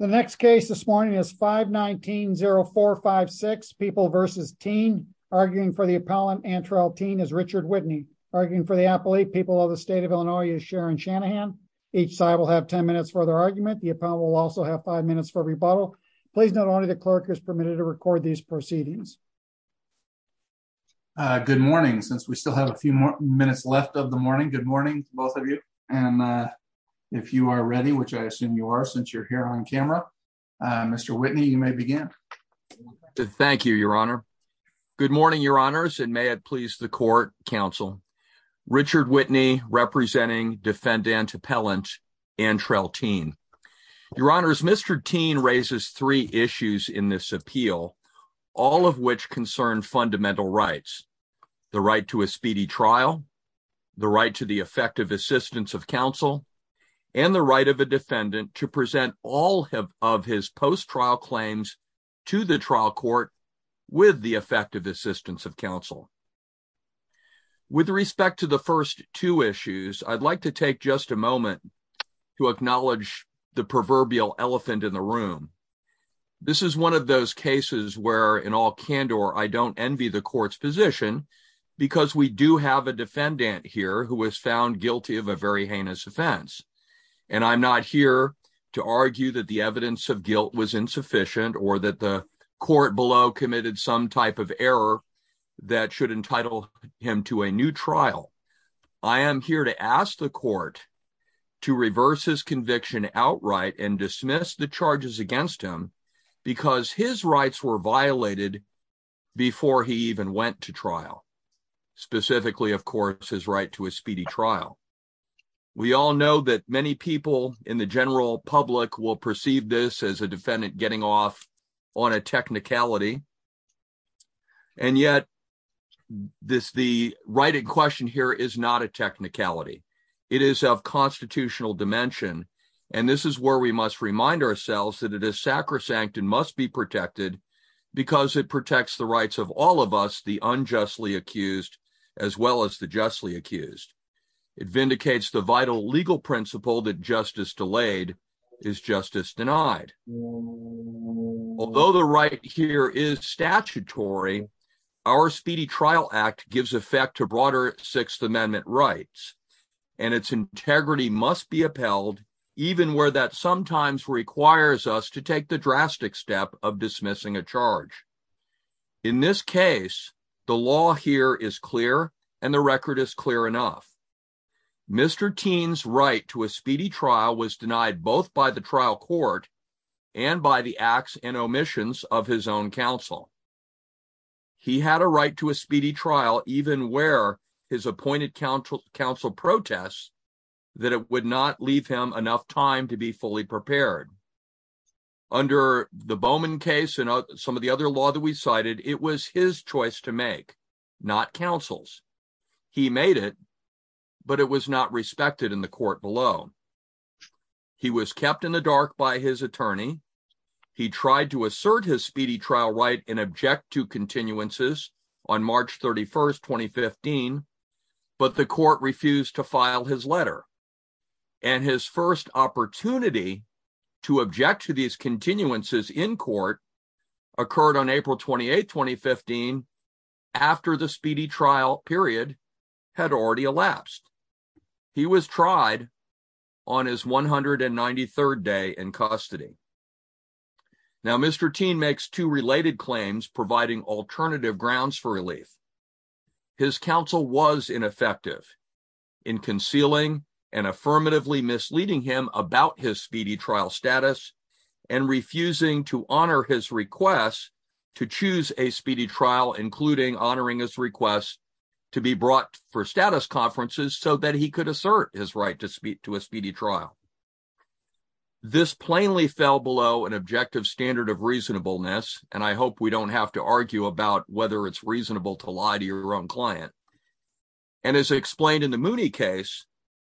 The next case this morning is 519-0456, People v. Teen. Arguing for the appellant, Antrell Teen, is Richard Whitney. Arguing for the appellate, People of the State of Illinois, is Sharon Shanahan. Each side will have 10 minutes for their argument. The appellant will also have 5 minutes for rebuttal. Please note only the clerk is permitted to record these proceedings. Uh, good morning. Since we still have a few more minutes left of the morning, good morning to both of you. And, uh, if you are ready, which I assume you are, since you're here on camera. Uh, Mr. Whitney, you may begin. Thank you, Your Honor. Good morning, Your Honors, and may it please the court, counsel. Richard Whitney, representing defendant appellant, Antrell Teen. Your Honors, Mr. Teen raises three issues in this appeal, all of which concern fundamental rights. The right to a speedy trial, the right to the effective assistance of counsel, and the right of a defendant to present all of his post-trial claims to the trial court with the effective assistance of counsel. With respect to the first two issues, I'd like to take just a moment to acknowledge the proverbial elephant in the room. This is one of those cases where, in all candor, I don't envy the court's position because we do have a defendant here who was found guilty of a very heinous offense. And I'm not here to argue that the evidence of guilt was insufficient or that the court below committed some type of error that should entitle him to a new trial. I am here to ask the court to reverse his conviction outright and dismiss the charges against him because his rights were specifically, of course, his right to a speedy trial. We all know that many people in the general public will perceive this as a defendant getting off on a technicality. And yet, the right in question here is not a technicality. It is of constitutional dimension. And this is where we must remind ourselves that it is sacrosanct and must be protected because it as well as the justly accused. It vindicates the vital legal principle that justice delayed is justice denied. Although the right here is statutory, our Speedy Trial Act gives effect to broader Sixth Amendment rights. And its integrity must be upheld even where that sometimes requires us to take the drastic step of dismissing a charge. In this case, the law here is clear and the record is clear enough. Mr. Tien's right to a speedy trial was denied both by the trial court and by the acts and omissions of his own counsel. He had a right to a speedy trial even where his appointed counsel protests that it would not leave him enough time to be fully prepared. Under the Bowman case and some of the other law that we to make, not counsel's. He made it, but it was not respected in the court below. He was kept in the dark by his attorney. He tried to assert his speedy trial right and object to continuances on March 31st, 2015, but the court refused to file his letter. And his first opportunity to object to these continuances in court occurred on April 28, 2015, after the speedy trial period had already elapsed. He was tried on his 193rd day in custody. Now, Mr. Tien makes two related claims providing alternative grounds for relief. His counsel was ineffective in concealing and affirmatively misleading him about his speedy trial status and refusing to honor his request to choose a speedy trial, including honoring his request to be brought for status conferences so that he could assert his right to speak to a speedy trial. This plainly fell below an objective standard of reasonableness, and I hope we don't have to argue about whether it's reasonable to lie to your own client. And as explained in the Mooney case,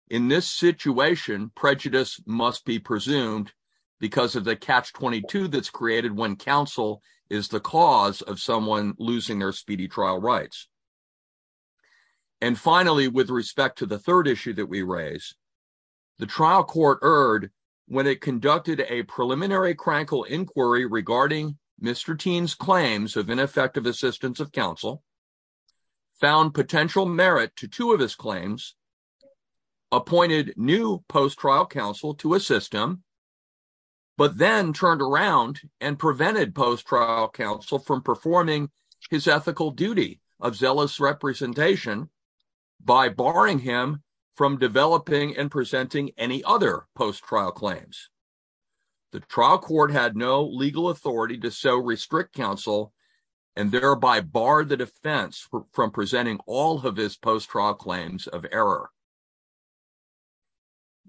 in this situation, prejudice must be presumed because of the catch-22 that's created when counsel is the cause of someone losing their speedy trial rights. And finally, with respect to the third issue that we raise, the trial court erred when it conducted a preliminary crankle inquiry regarding Mr. Tien's claims of ineffective assistance of counsel, found potential merit to two of his claims, appointed new post-trial counsel to assist him, but then turned around and prevented post-trial counsel from performing his ethical duty of zealous representation by barring him from developing and presenting any other post-trial claims. The trial court had no legal authority to so restrict counsel and thereby bar the defense from presenting all of his post-trial claims of error.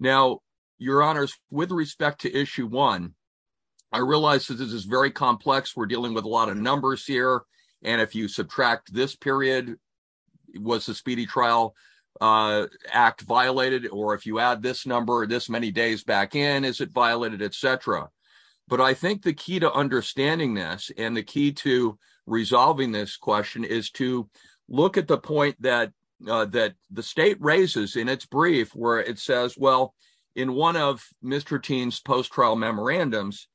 Now, your honors, with respect to issue one, I realize that this is very complex. We're dealing with a lot of numbers here, and if you subtract this period, was the speedy trial act violated, or if you add this number this many days back in, is it violated, etc. But I think the key to understanding this and the key to resolving this question is to look at the point that the state raises in its brief where it says, well, in one of Mr. Tien's post-trial memorandums,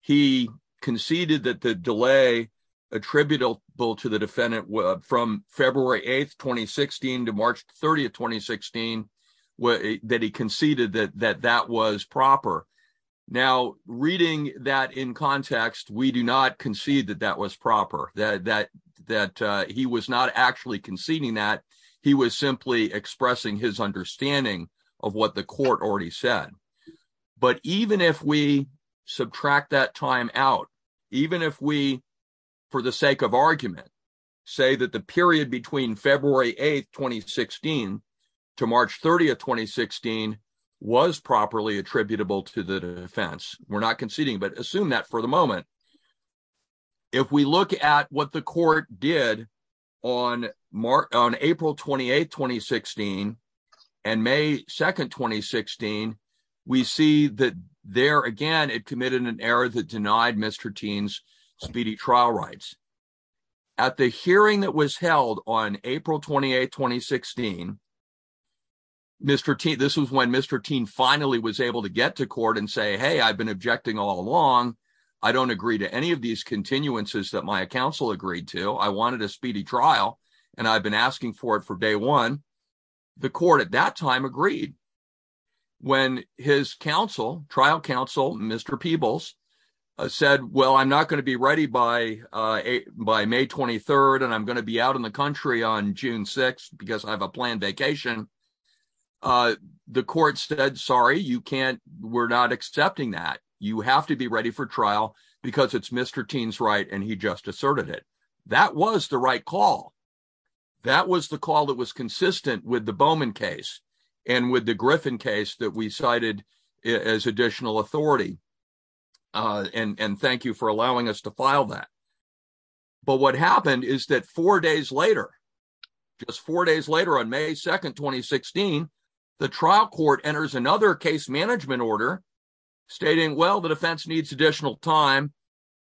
he conceded that the delay attributable to the that that was proper. Now, reading that in context, we do not concede that that was proper, that he was not actually conceding that. He was simply expressing his understanding of what the court already said. But even if we subtract that time out, even if we, for the sake of argument, say that the period between February 8th, 2016 to March 30th, 2016 was properly attributable to the defense, we're not conceding, but assume that for the moment. If we look at what the court did on April 28th, 2016 and May 2nd, 2016, we see that there again, it committed an error that denied Mr. Tien's speedy trial rights. At the hearing that was held on April 28th, 2016, this was when Mr. Tien finally was able to get to court and say, hey, I've been objecting all along. I don't agree to any of these continuances that my counsel agreed to. I wanted a speedy trial and I've been asking for it for day one. The court at that time agreed when his trial counsel, Mr. Peebles, said, well, I'm not going to be ready by May 23rd and I'm on June 6th because I have a planned vacation. The court said, sorry, you can't, we're not accepting that. You have to be ready for trial because it's Mr. Tien's right and he just asserted it. That was the right call. That was the call that was consistent with the Bowman case and with the Griffin case that we cited as additional authority. And thank you for allowing us to file that. But what happened is that four days later, just four days later on May 2nd, 2016, the trial court enters another case management order stating, well, the defense needs additional time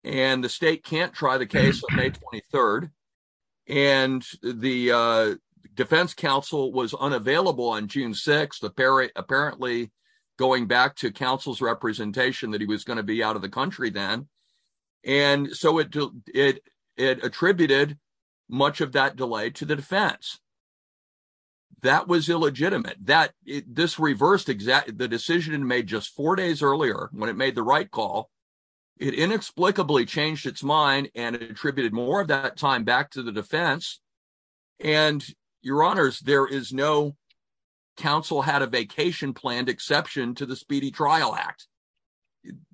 and the state can't try the case on May 23rd. And the defense counsel was unavailable on June 6th, apparently going back to counsel's representation that he was going to be out of the country then. And so it attributed much of that delay to the defense. That was illegitimate. This reversed the decision made just four days earlier when it made the right call. It inexplicably changed its mind and attributed more of that time back to the defense. And your honors, there is no vacation planned exception to the Speedy Trial Act.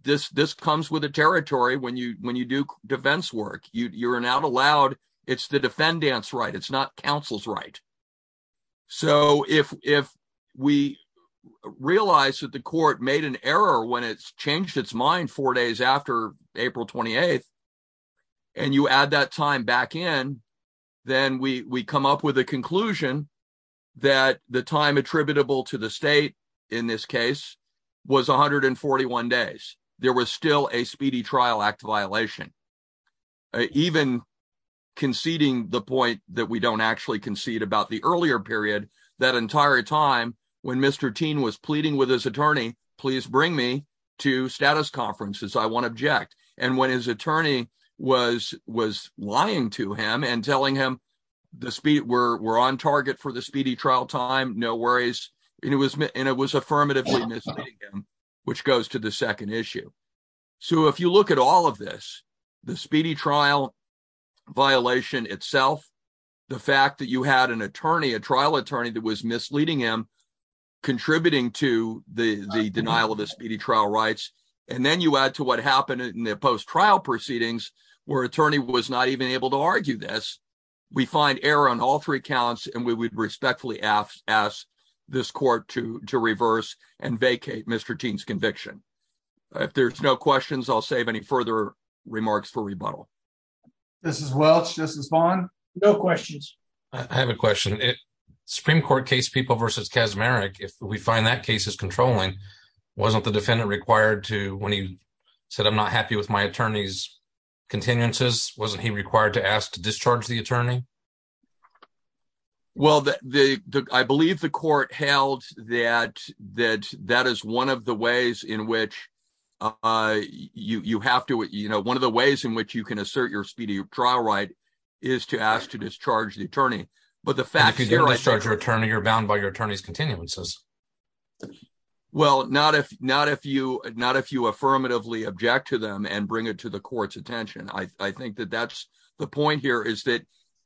This comes with the territory when you do defense work. You're not allowed. It's the defendant's right. It's not counsel's right. So if we realize that the court made an error when it's changed its mind four days after April 28th and you add that time back in, then we come up with a conclusion that the time attributable to the state in this case was 141 days. There was still a Speedy Trial Act violation. Even conceding the point that we don't actually concede about the earlier period, that entire time when Mr. Tien was pleading with his attorney, please bring me to status I want to object. And when his attorney was lying to him and telling him we're on target for the Speedy Trial time, no worries. And it was affirmatively misleading him, which goes to the second issue. So if you look at all of this, the Speedy Trial violation itself, the fact that you had an attorney, a trial attorney that was misleading him, contributing to the denial of and then you add to what happened in the post-trial proceedings, where attorney was not even able to argue this, we find error on all three counts and we would respectfully ask this court to reverse and vacate Mr. Tien's conviction. If there's no questions, I'll save any further remarks for rebuttal. This is Welch. This is Vaughn. No questions. I have a question. Supreme Court case People v. Kaczmarek, if we find that case is controlling, wasn't the defendant required to, when he said I'm not happy with my attorney's continuances, wasn't he required to ask to discharge the attorney? Well, I believe the court held that that is one of the ways in which you have to, you know, one of the ways in which you can assert your Speedy Trial right is to ask to discharge the attorney. But the fact is you're bound by your attorney's continuances. Well, not if you affirmatively object to them and bring it to the court's attention. I think that that's the point here is that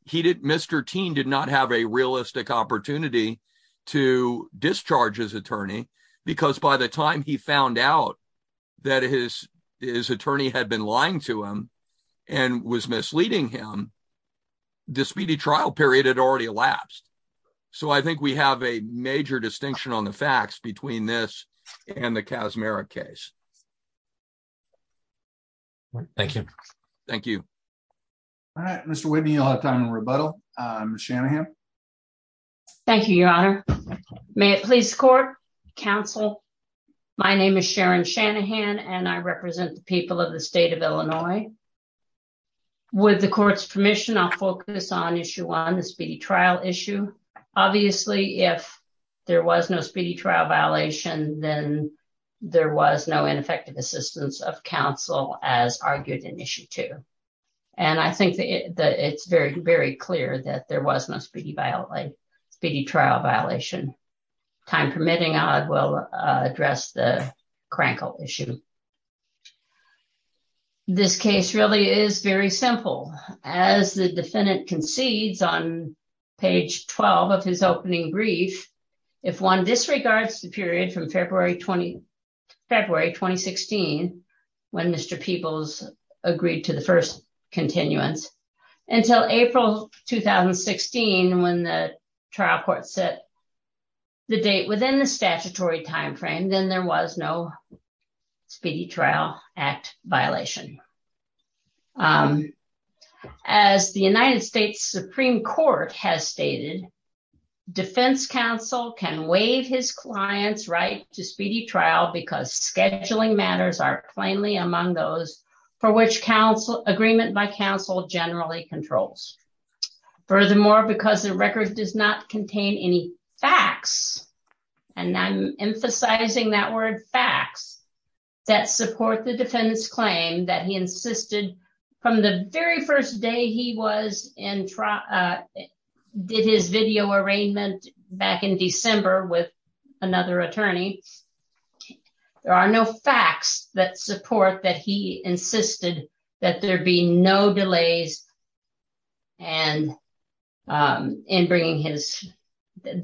Mr. Tien did not have a realistic opportunity to discharge his attorney because by the time he found out that his attorney had been lying to him and was misleading him, the Speedy Trial period had already elapsed. So I think we have a major distinction on the facts between this and the Kaczmarek case. Thank you. Thank you. All right, Mr. Whitney, you'll have time in rebuttal. Ms. Shanahan. Thank you, Your Honor. May it please the court, counsel. My name is Sharon Shanahan and I represent the people of the state of Illinois. With the court's permission, I'll focus on issue one, the Speedy Trial issue. Obviously, if there was no Speedy Trial violation, then there was no ineffective assistance of counsel as argued in issue two. And I think that it's very, very clear that there was no Speedy Trial violation. Time permitting, I will address the defendant concedes on page 12 of his opening brief. If one disregards the period from February 2016, when Mr. Peebles agreed to the first continuance until April 2016, when the trial court set the date within the statutory timeframe, then there was no Speedy Trial Act violation. As the United States Supreme Court has stated, defense counsel can waive his client's right to Speedy Trial because scheduling matters are plainly among those for which agreement by counsel generally controls. Furthermore, because the record does not contain any facts, and I'm insisting from the very first day he did his video arraignment back in December with another attorney, there are no facts that support that he insisted that there be no delays and that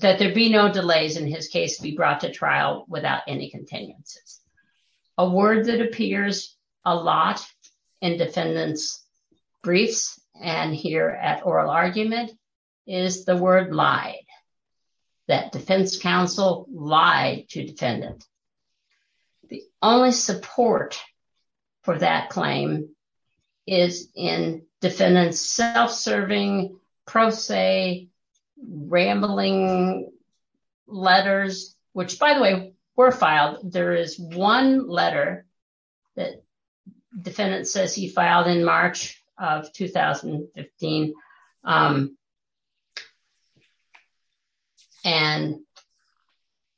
there be no delays in his case to be brought to trial without any continuances. A word that appears a lot in defendants' briefs and here at oral argument is the word lied, that defense counsel lied to defendant. The only support for that claim is in defendant's self-serving, pro se, rambling letters, which by the way, were filed. There is one letter that defendant says he filed in March of 2015, and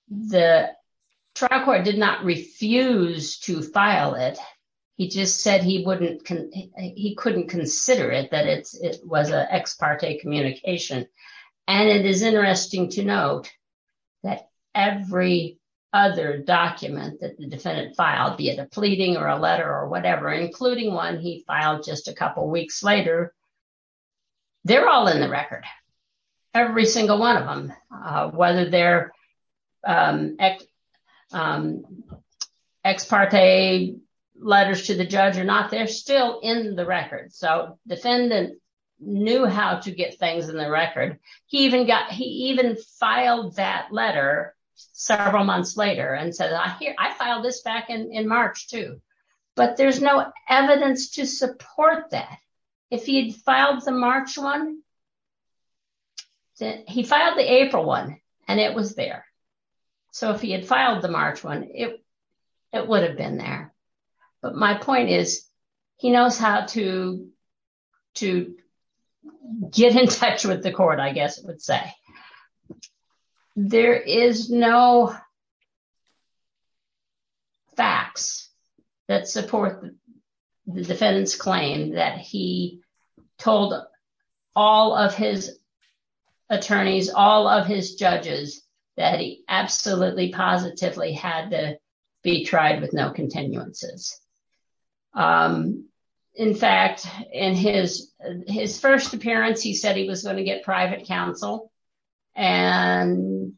the trial court did not refuse to file it. He just said he couldn't consider it, that it was an ex parte communication. And it is interesting to note that every other document that the defendant filed, be it a pleading or a letter or whatever, including one he filed just a couple of weeks later, they're all in the record, every single one of them, whether they're ex parte letters to the judge or not, they're still in the record. So defendant knew how to get things in the record. He even filed that letter several months later and said, I filed this back in March too, but there's no evidence to support that. If he had filed the March one, he filed the April one and it was there. So if he had filed the March one, it would have been there. But my point is, he knows how to get in touch with the court, I guess it would say. There is no facts that support the defendant's claim that he told all of his attorneys, all of his judges, that he absolutely positively had to be tried with no continuances. In fact, in his first appearance, he said he was going to get private counsel and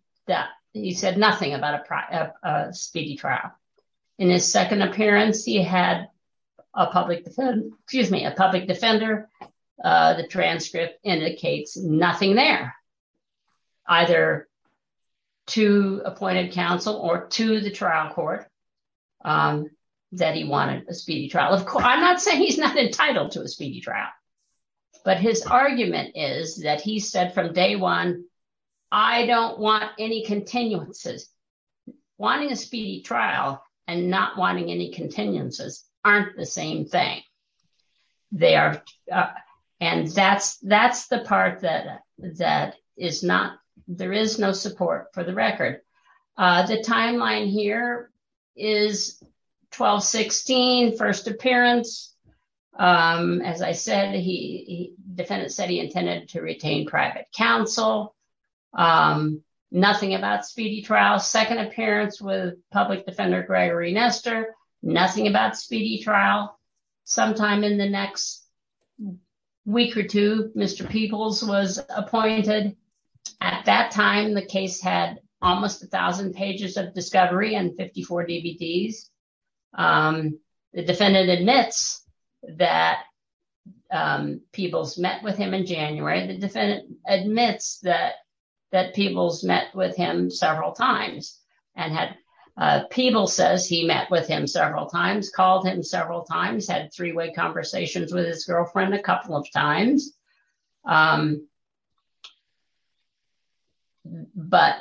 he said nothing about a speedy trial. In his second appearance, he had a public defender. The transcript indicates nothing there, either to appointed counsel or to the trial court that he wanted a speedy trial. Of course, I'm not saying he's not entitled to a speedy trial, but his argument is that he said from day one, I don't want any continuances. Wanting a speedy trial and not wanting any continuances aren't the same thing. That's the part that there is no support for the record. The timeline here is 12-16, first appearance. As I said, the defendant said he intended to retain private counsel, nothing about speedy trial. Second appearance with public defender Gregory Nestor, nothing about speedy trial. Sometime in the next week or two, Mr. Peebles was appointed. At that time, the case had almost 1,000 pages of discovery and 54 DVDs. The defendant admits that Peebles met with him in January. The defendant admits that Peebles met with him several times. Peebles says he met with him several times, called him several times, had three-way conversations with his girlfriend a couple of times, but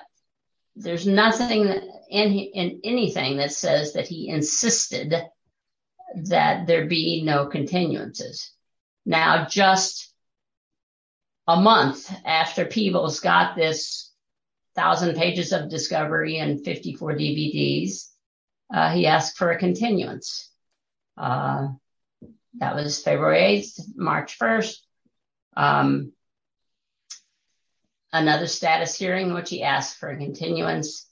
there's nothing in anything that says that he insisted that there be no continuances. Now, just a month after Peebles got this 1,000 pages of discovery and 54 DVDs, he asked for a continuance. That was February 8th, March 1st, another status hearing, which he asked for a continuance,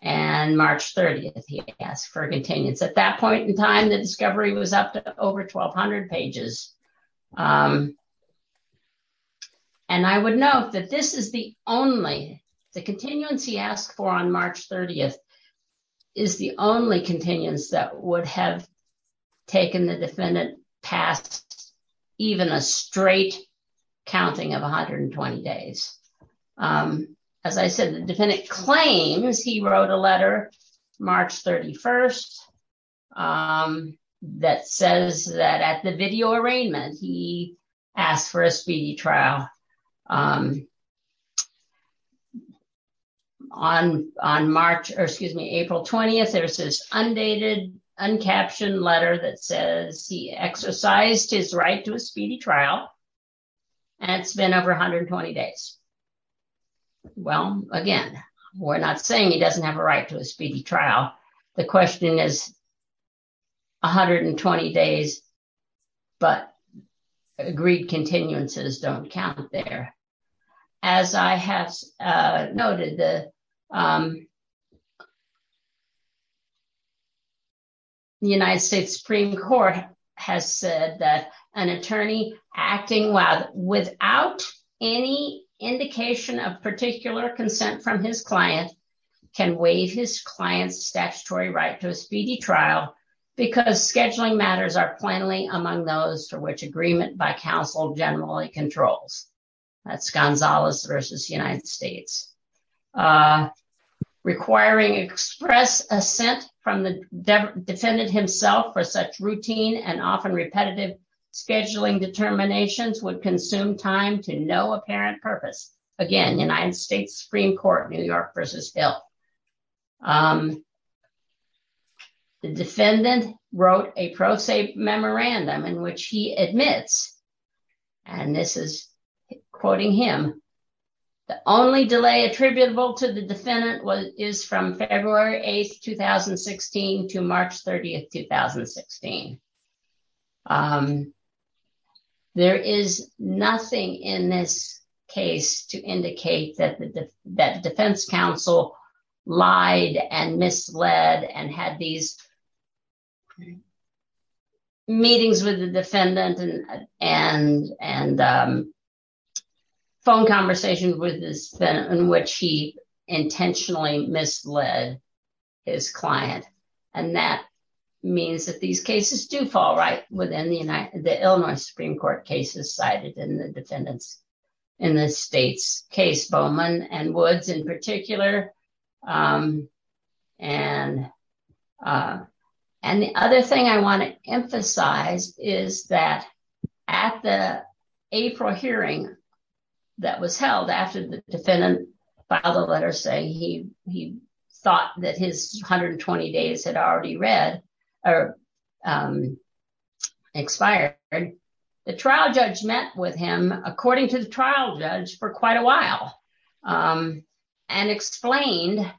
and March 30th, he asked for a continuance. At that point in time, the discovery was up to over 1,200 pages. I would note that this is the only, the continuance he asked for on March 30th is the only continuance that would have taken the defendant past even a straight counting of 120 days. As I said, the defendant claims he wrote a letter March 31st that says that at video arraignment, he asked for a speedy trial. On March, or excuse me, April 20th, there's this undated, uncaptioned letter that says he exercised his right to a speedy trial, and it's been over 120 days. Well, again, we're not saying he doesn't have a right to a speedy trial, but agreed continuances don't count there. As I have noted, the United States Supreme Court has said that an attorney acting without any indication of particular consent from his client can waive his client's statutory right to a speedy trial because scheduling matters are plainly among those to which agreement by counsel generally controls. That's Gonzalez versus United States. Requiring express assent from the defendant himself for such routine and often repetitive scheduling determinations would consume time to no apparent purpose. Again, United States Supreme Court, New York versus Hill. The defendant wrote a pro se memorandum in which he admits, and this is quoting him, the only delay attributable to the defendant is from February 8th, 2016 to March 30th, 2016. There is nothing in this case to indicate that the defense counsel lied and misled and had these meetings with the defendant and phone conversations with this, in which he did fall right within the Illinois Supreme Court cases cited in the defendant's in the state's case, Bowman and Woods in particular. The other thing I want to emphasize is that at the April hearing that was held after the defendant filed a letter saying he thought that his 120 days had already read or expired, the trial judge met with him, according to the trial judge, for quite a while and explained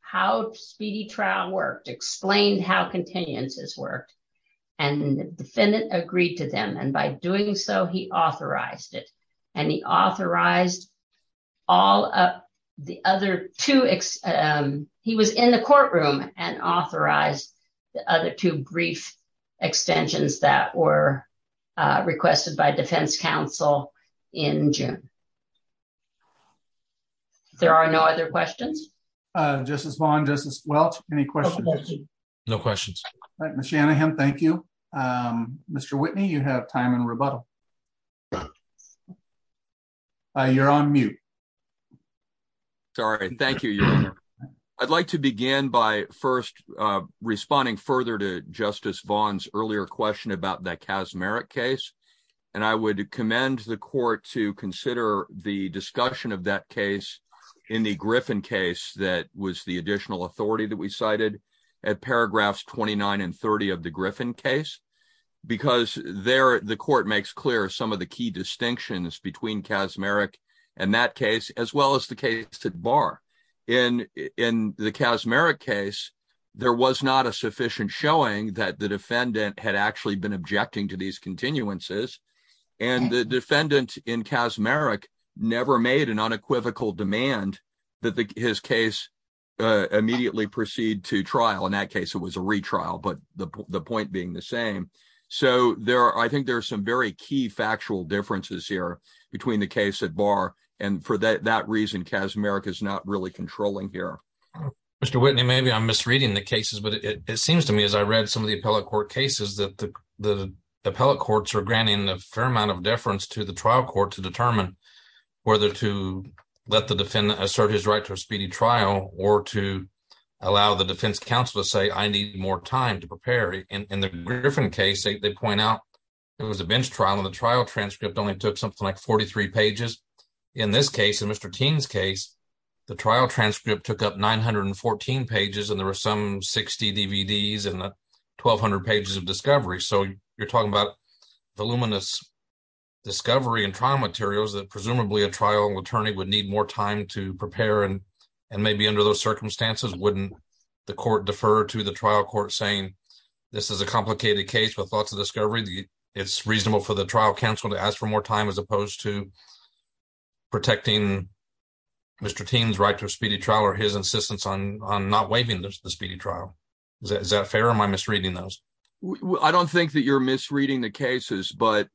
how speedy trial worked, explained how continuances worked, and the defendant agreed to them. By doing so, he authorized it. He authorized all of the other two. He was in the courtroom and authorized the other two brief extensions that were requested by defense counsel in June. There are no other questions. Justice Vaughn, Justice Welch, any questions? No questions. All right, Ms. Shanahan, thank you. Mr. Whitney, you have time in rebuttal. You're on mute. Sorry, thank you, Your Honor. I'd like to begin by first responding further to Justice Vaughn's earlier question about that Kaczmarek case, and I would commend the court to consider the discussion of that case in the Griffin case that was the additional authority that we cited at paragraphs 29 and 30 of the Griffin case, because there the court makes clear some of the key distinctions between Kaczmarek and that case, as well as the case at bar. In the Kaczmarek case, there was not a sufficient showing that the defendant had actually been objecting to these continuances, and the defendant in Kaczmarek never made an unequivocal demand that his case immediately proceed to trial. In that case, it was a retrial, but the point being the same. So I think there are some very key factual differences here between the case at bar, and for that reason, Kaczmarek is not really controlling here. Mr. Whitney, maybe I'm misreading the cases, but it seems to me as I read some of the appellate court cases that the appellate courts are granting a fair amount of deference to the trial court to determine whether to let the assert his right to a speedy trial or to allow the defense counsel to say, I need more time to prepare. In the Griffin case, they point out it was a bench trial and the trial transcript only took something like 43 pages. In this case, in Mr. Tien's case, the trial transcript took up 914 pages and there were some 60 DVDs and 1,200 pages of discovery. So you're talking about voluminous discovery and trial materials that presumably a trial attorney would need more time to prepare and maybe under those circumstances, wouldn't the court defer to the trial court saying, this is a complicated case with lots of discovery, it's reasonable for the trial counsel to ask for more time as opposed to protecting Mr. Tien's right to a speedy trial or his insistence on not waiving the speedy trial. Is that fair or am I misreading those? I don't think that you're misreading the cases, but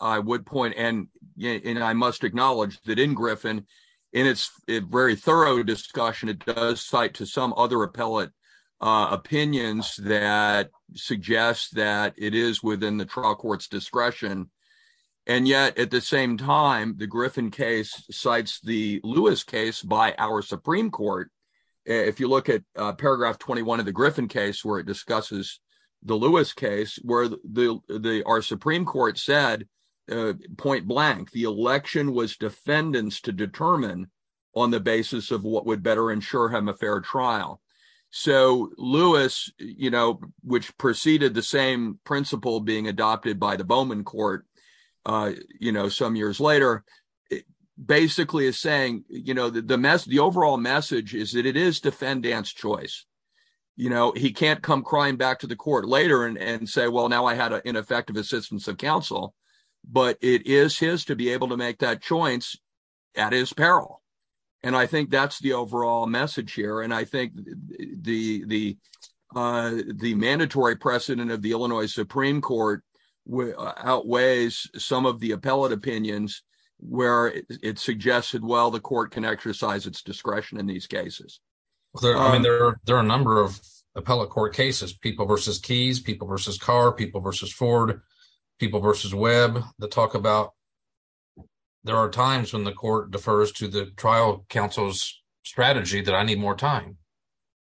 I would point and I must acknowledge that in Griffin, in its very thorough discussion, it does cite to some other appellate opinions that suggest that it is within the trial court's discretion. And yet at the same time, the Griffin case cites the Lewis case by our Supreme Court. If you look at paragraph 21 of Griffin case where it discusses the Lewis case where our Supreme Court said, point blank, the election was defendants to determine on the basis of what would better ensure him a fair trial. So Lewis, which preceded the same principle being adopted by the Bowman court some years later, basically is saying, the overall message is that it is defendant's choice. He can't come crying back to the court later and say, well, now I had an ineffective assistance of counsel, but it is his to be able to make that choice at his peril. And I think that's the overall message here. And I think the mandatory precedent of the Illinois Supreme Court outweighs some of the appellate opinions where it suggested, well, the court can exercise its discretion in these cases. There are a number of appellate court cases, people versus keys, people versus car, people versus Ford, people versus web that talk about, there are times when the court defers to the trial counsel's strategy that I need more time.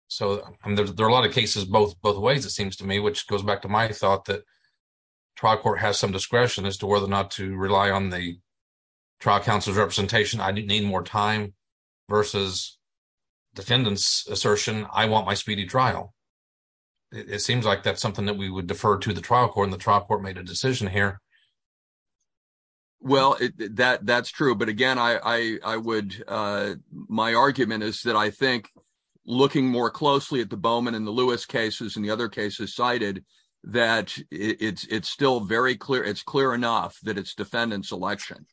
So there are a lot of trial court has some discretion as to whether or not to rely on the trial counsel's representation. I didn't need more time versus defendant's assertion. I want my speedy trial. It seems like that's something that we would defer to the trial court and the trial court made a decision here. Well, that's true. But again, my argument is that I think looking more closely at the Bowman and the Lewis cases and the other cases cited, that it's still very clear. It's clear enough that it's defendant's election.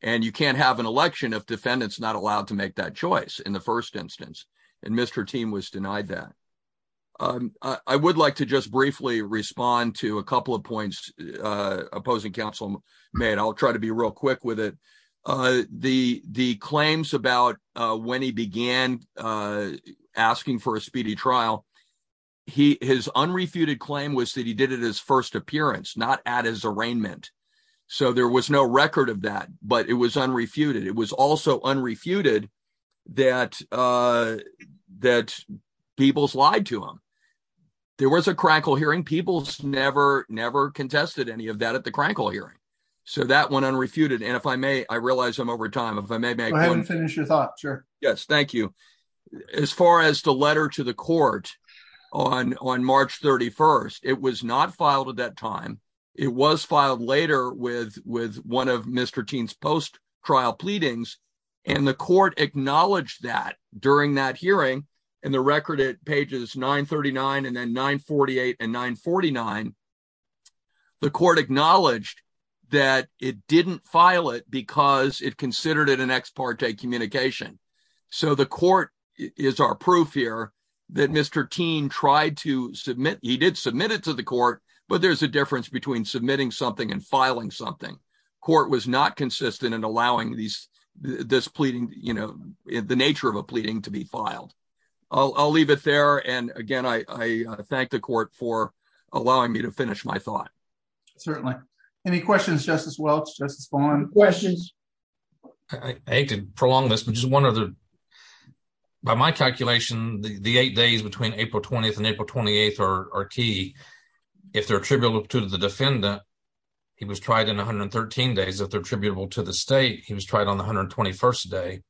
And you can't have an election if defendant's not allowed to make that choice in the first instance. And Mr. Thiem was denied that. I would like to just briefly respond to a couple of points opposing counsel made. I'll try to be real quick with it. The claims about when he began asking for a speedy trial, his unrefuted claim was that he did it at his first appearance, not at his arraignment. So there was no record of that, but it was unrefuted. It was also unrefuted that Peoples lied to him. There was a crankle hearing. Peoples never, never contested any of that at the crankle hearing. So that went unrefuted. And if I realize I'm over time, if I may make one- Go ahead and finish your thought, sure. Yes, thank you. As far as the letter to the court on March 31st, it was not filed at that time. It was filed later with one of Mr. Thiem's post trial pleadings. And the court acknowledged that during that hearing and the record at pages 939 and then 948 and 949, the court acknowledged that it didn't file it because it considered it an ex parte communication. So the court is our proof here that Mr. Thiem tried to submit, he did submit it to the court, but there's a difference between submitting something and filing something. Court was not consistent in allowing this pleading, you know, the nature of a pleading to be filed. I'll leave it there. And again, I thank the court any questions, Justice Welch, Justice Vaughn? Questions? I hate to prolong this, but just one other. By my calculation, the eight days between April 20th and April 28th are key. If they're attributable to the defendant, he was tried in 113 days. If they're attributable to the state, he was tried on the 121st day.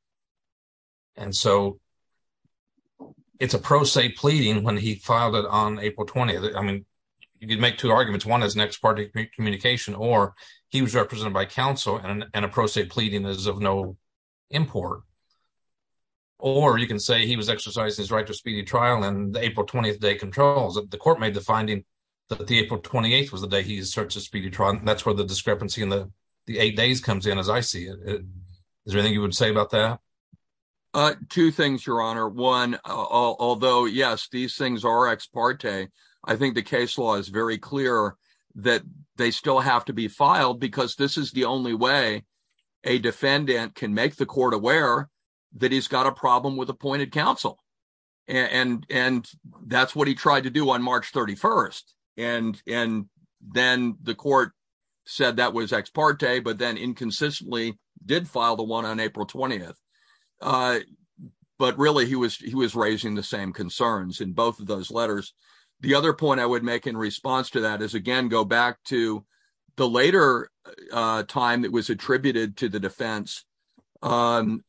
And so it's a pro se pleading when he filed it on April 20th. I mean, you could make two arguments. One is an ex parte communication, or he was represented by counsel and a pro se pleading is of no import. Or you can say he was exercising his right to speedy trial and the April 20th day controls. The court made the finding that the April 28th was the day he asserts a speedy trial. And that's where the discrepancy in the eight days comes in as I see it. Is there anything you would say about that? Two things, Your Honor. One, although yes, these things are ex parte, I think the case law is very clear that they still have to be filed because this is the only way a defendant can make the court aware that he's got a problem with appointed counsel. And that's what he tried to do on March 31st. And then the court said that was ex parte, but then inconsistently did file the one on April 20th. But really, he was raising the same concerns in both of those letters. The other point I would make in response to that is again, go back to the later time that was attributed to the defense on,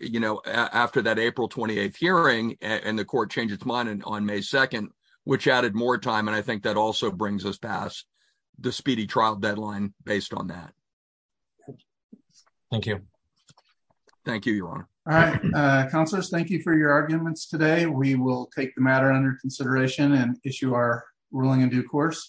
you know, after that April 28th hearing and the court changed its mind on May 2nd, which added more time. And I think that also brings us past the speedy trial deadline based on that. Thank you. Thank you, Your Honor. Counselors, thank you for your arguments today. We will take the matter under consideration and issue our ruling in due course.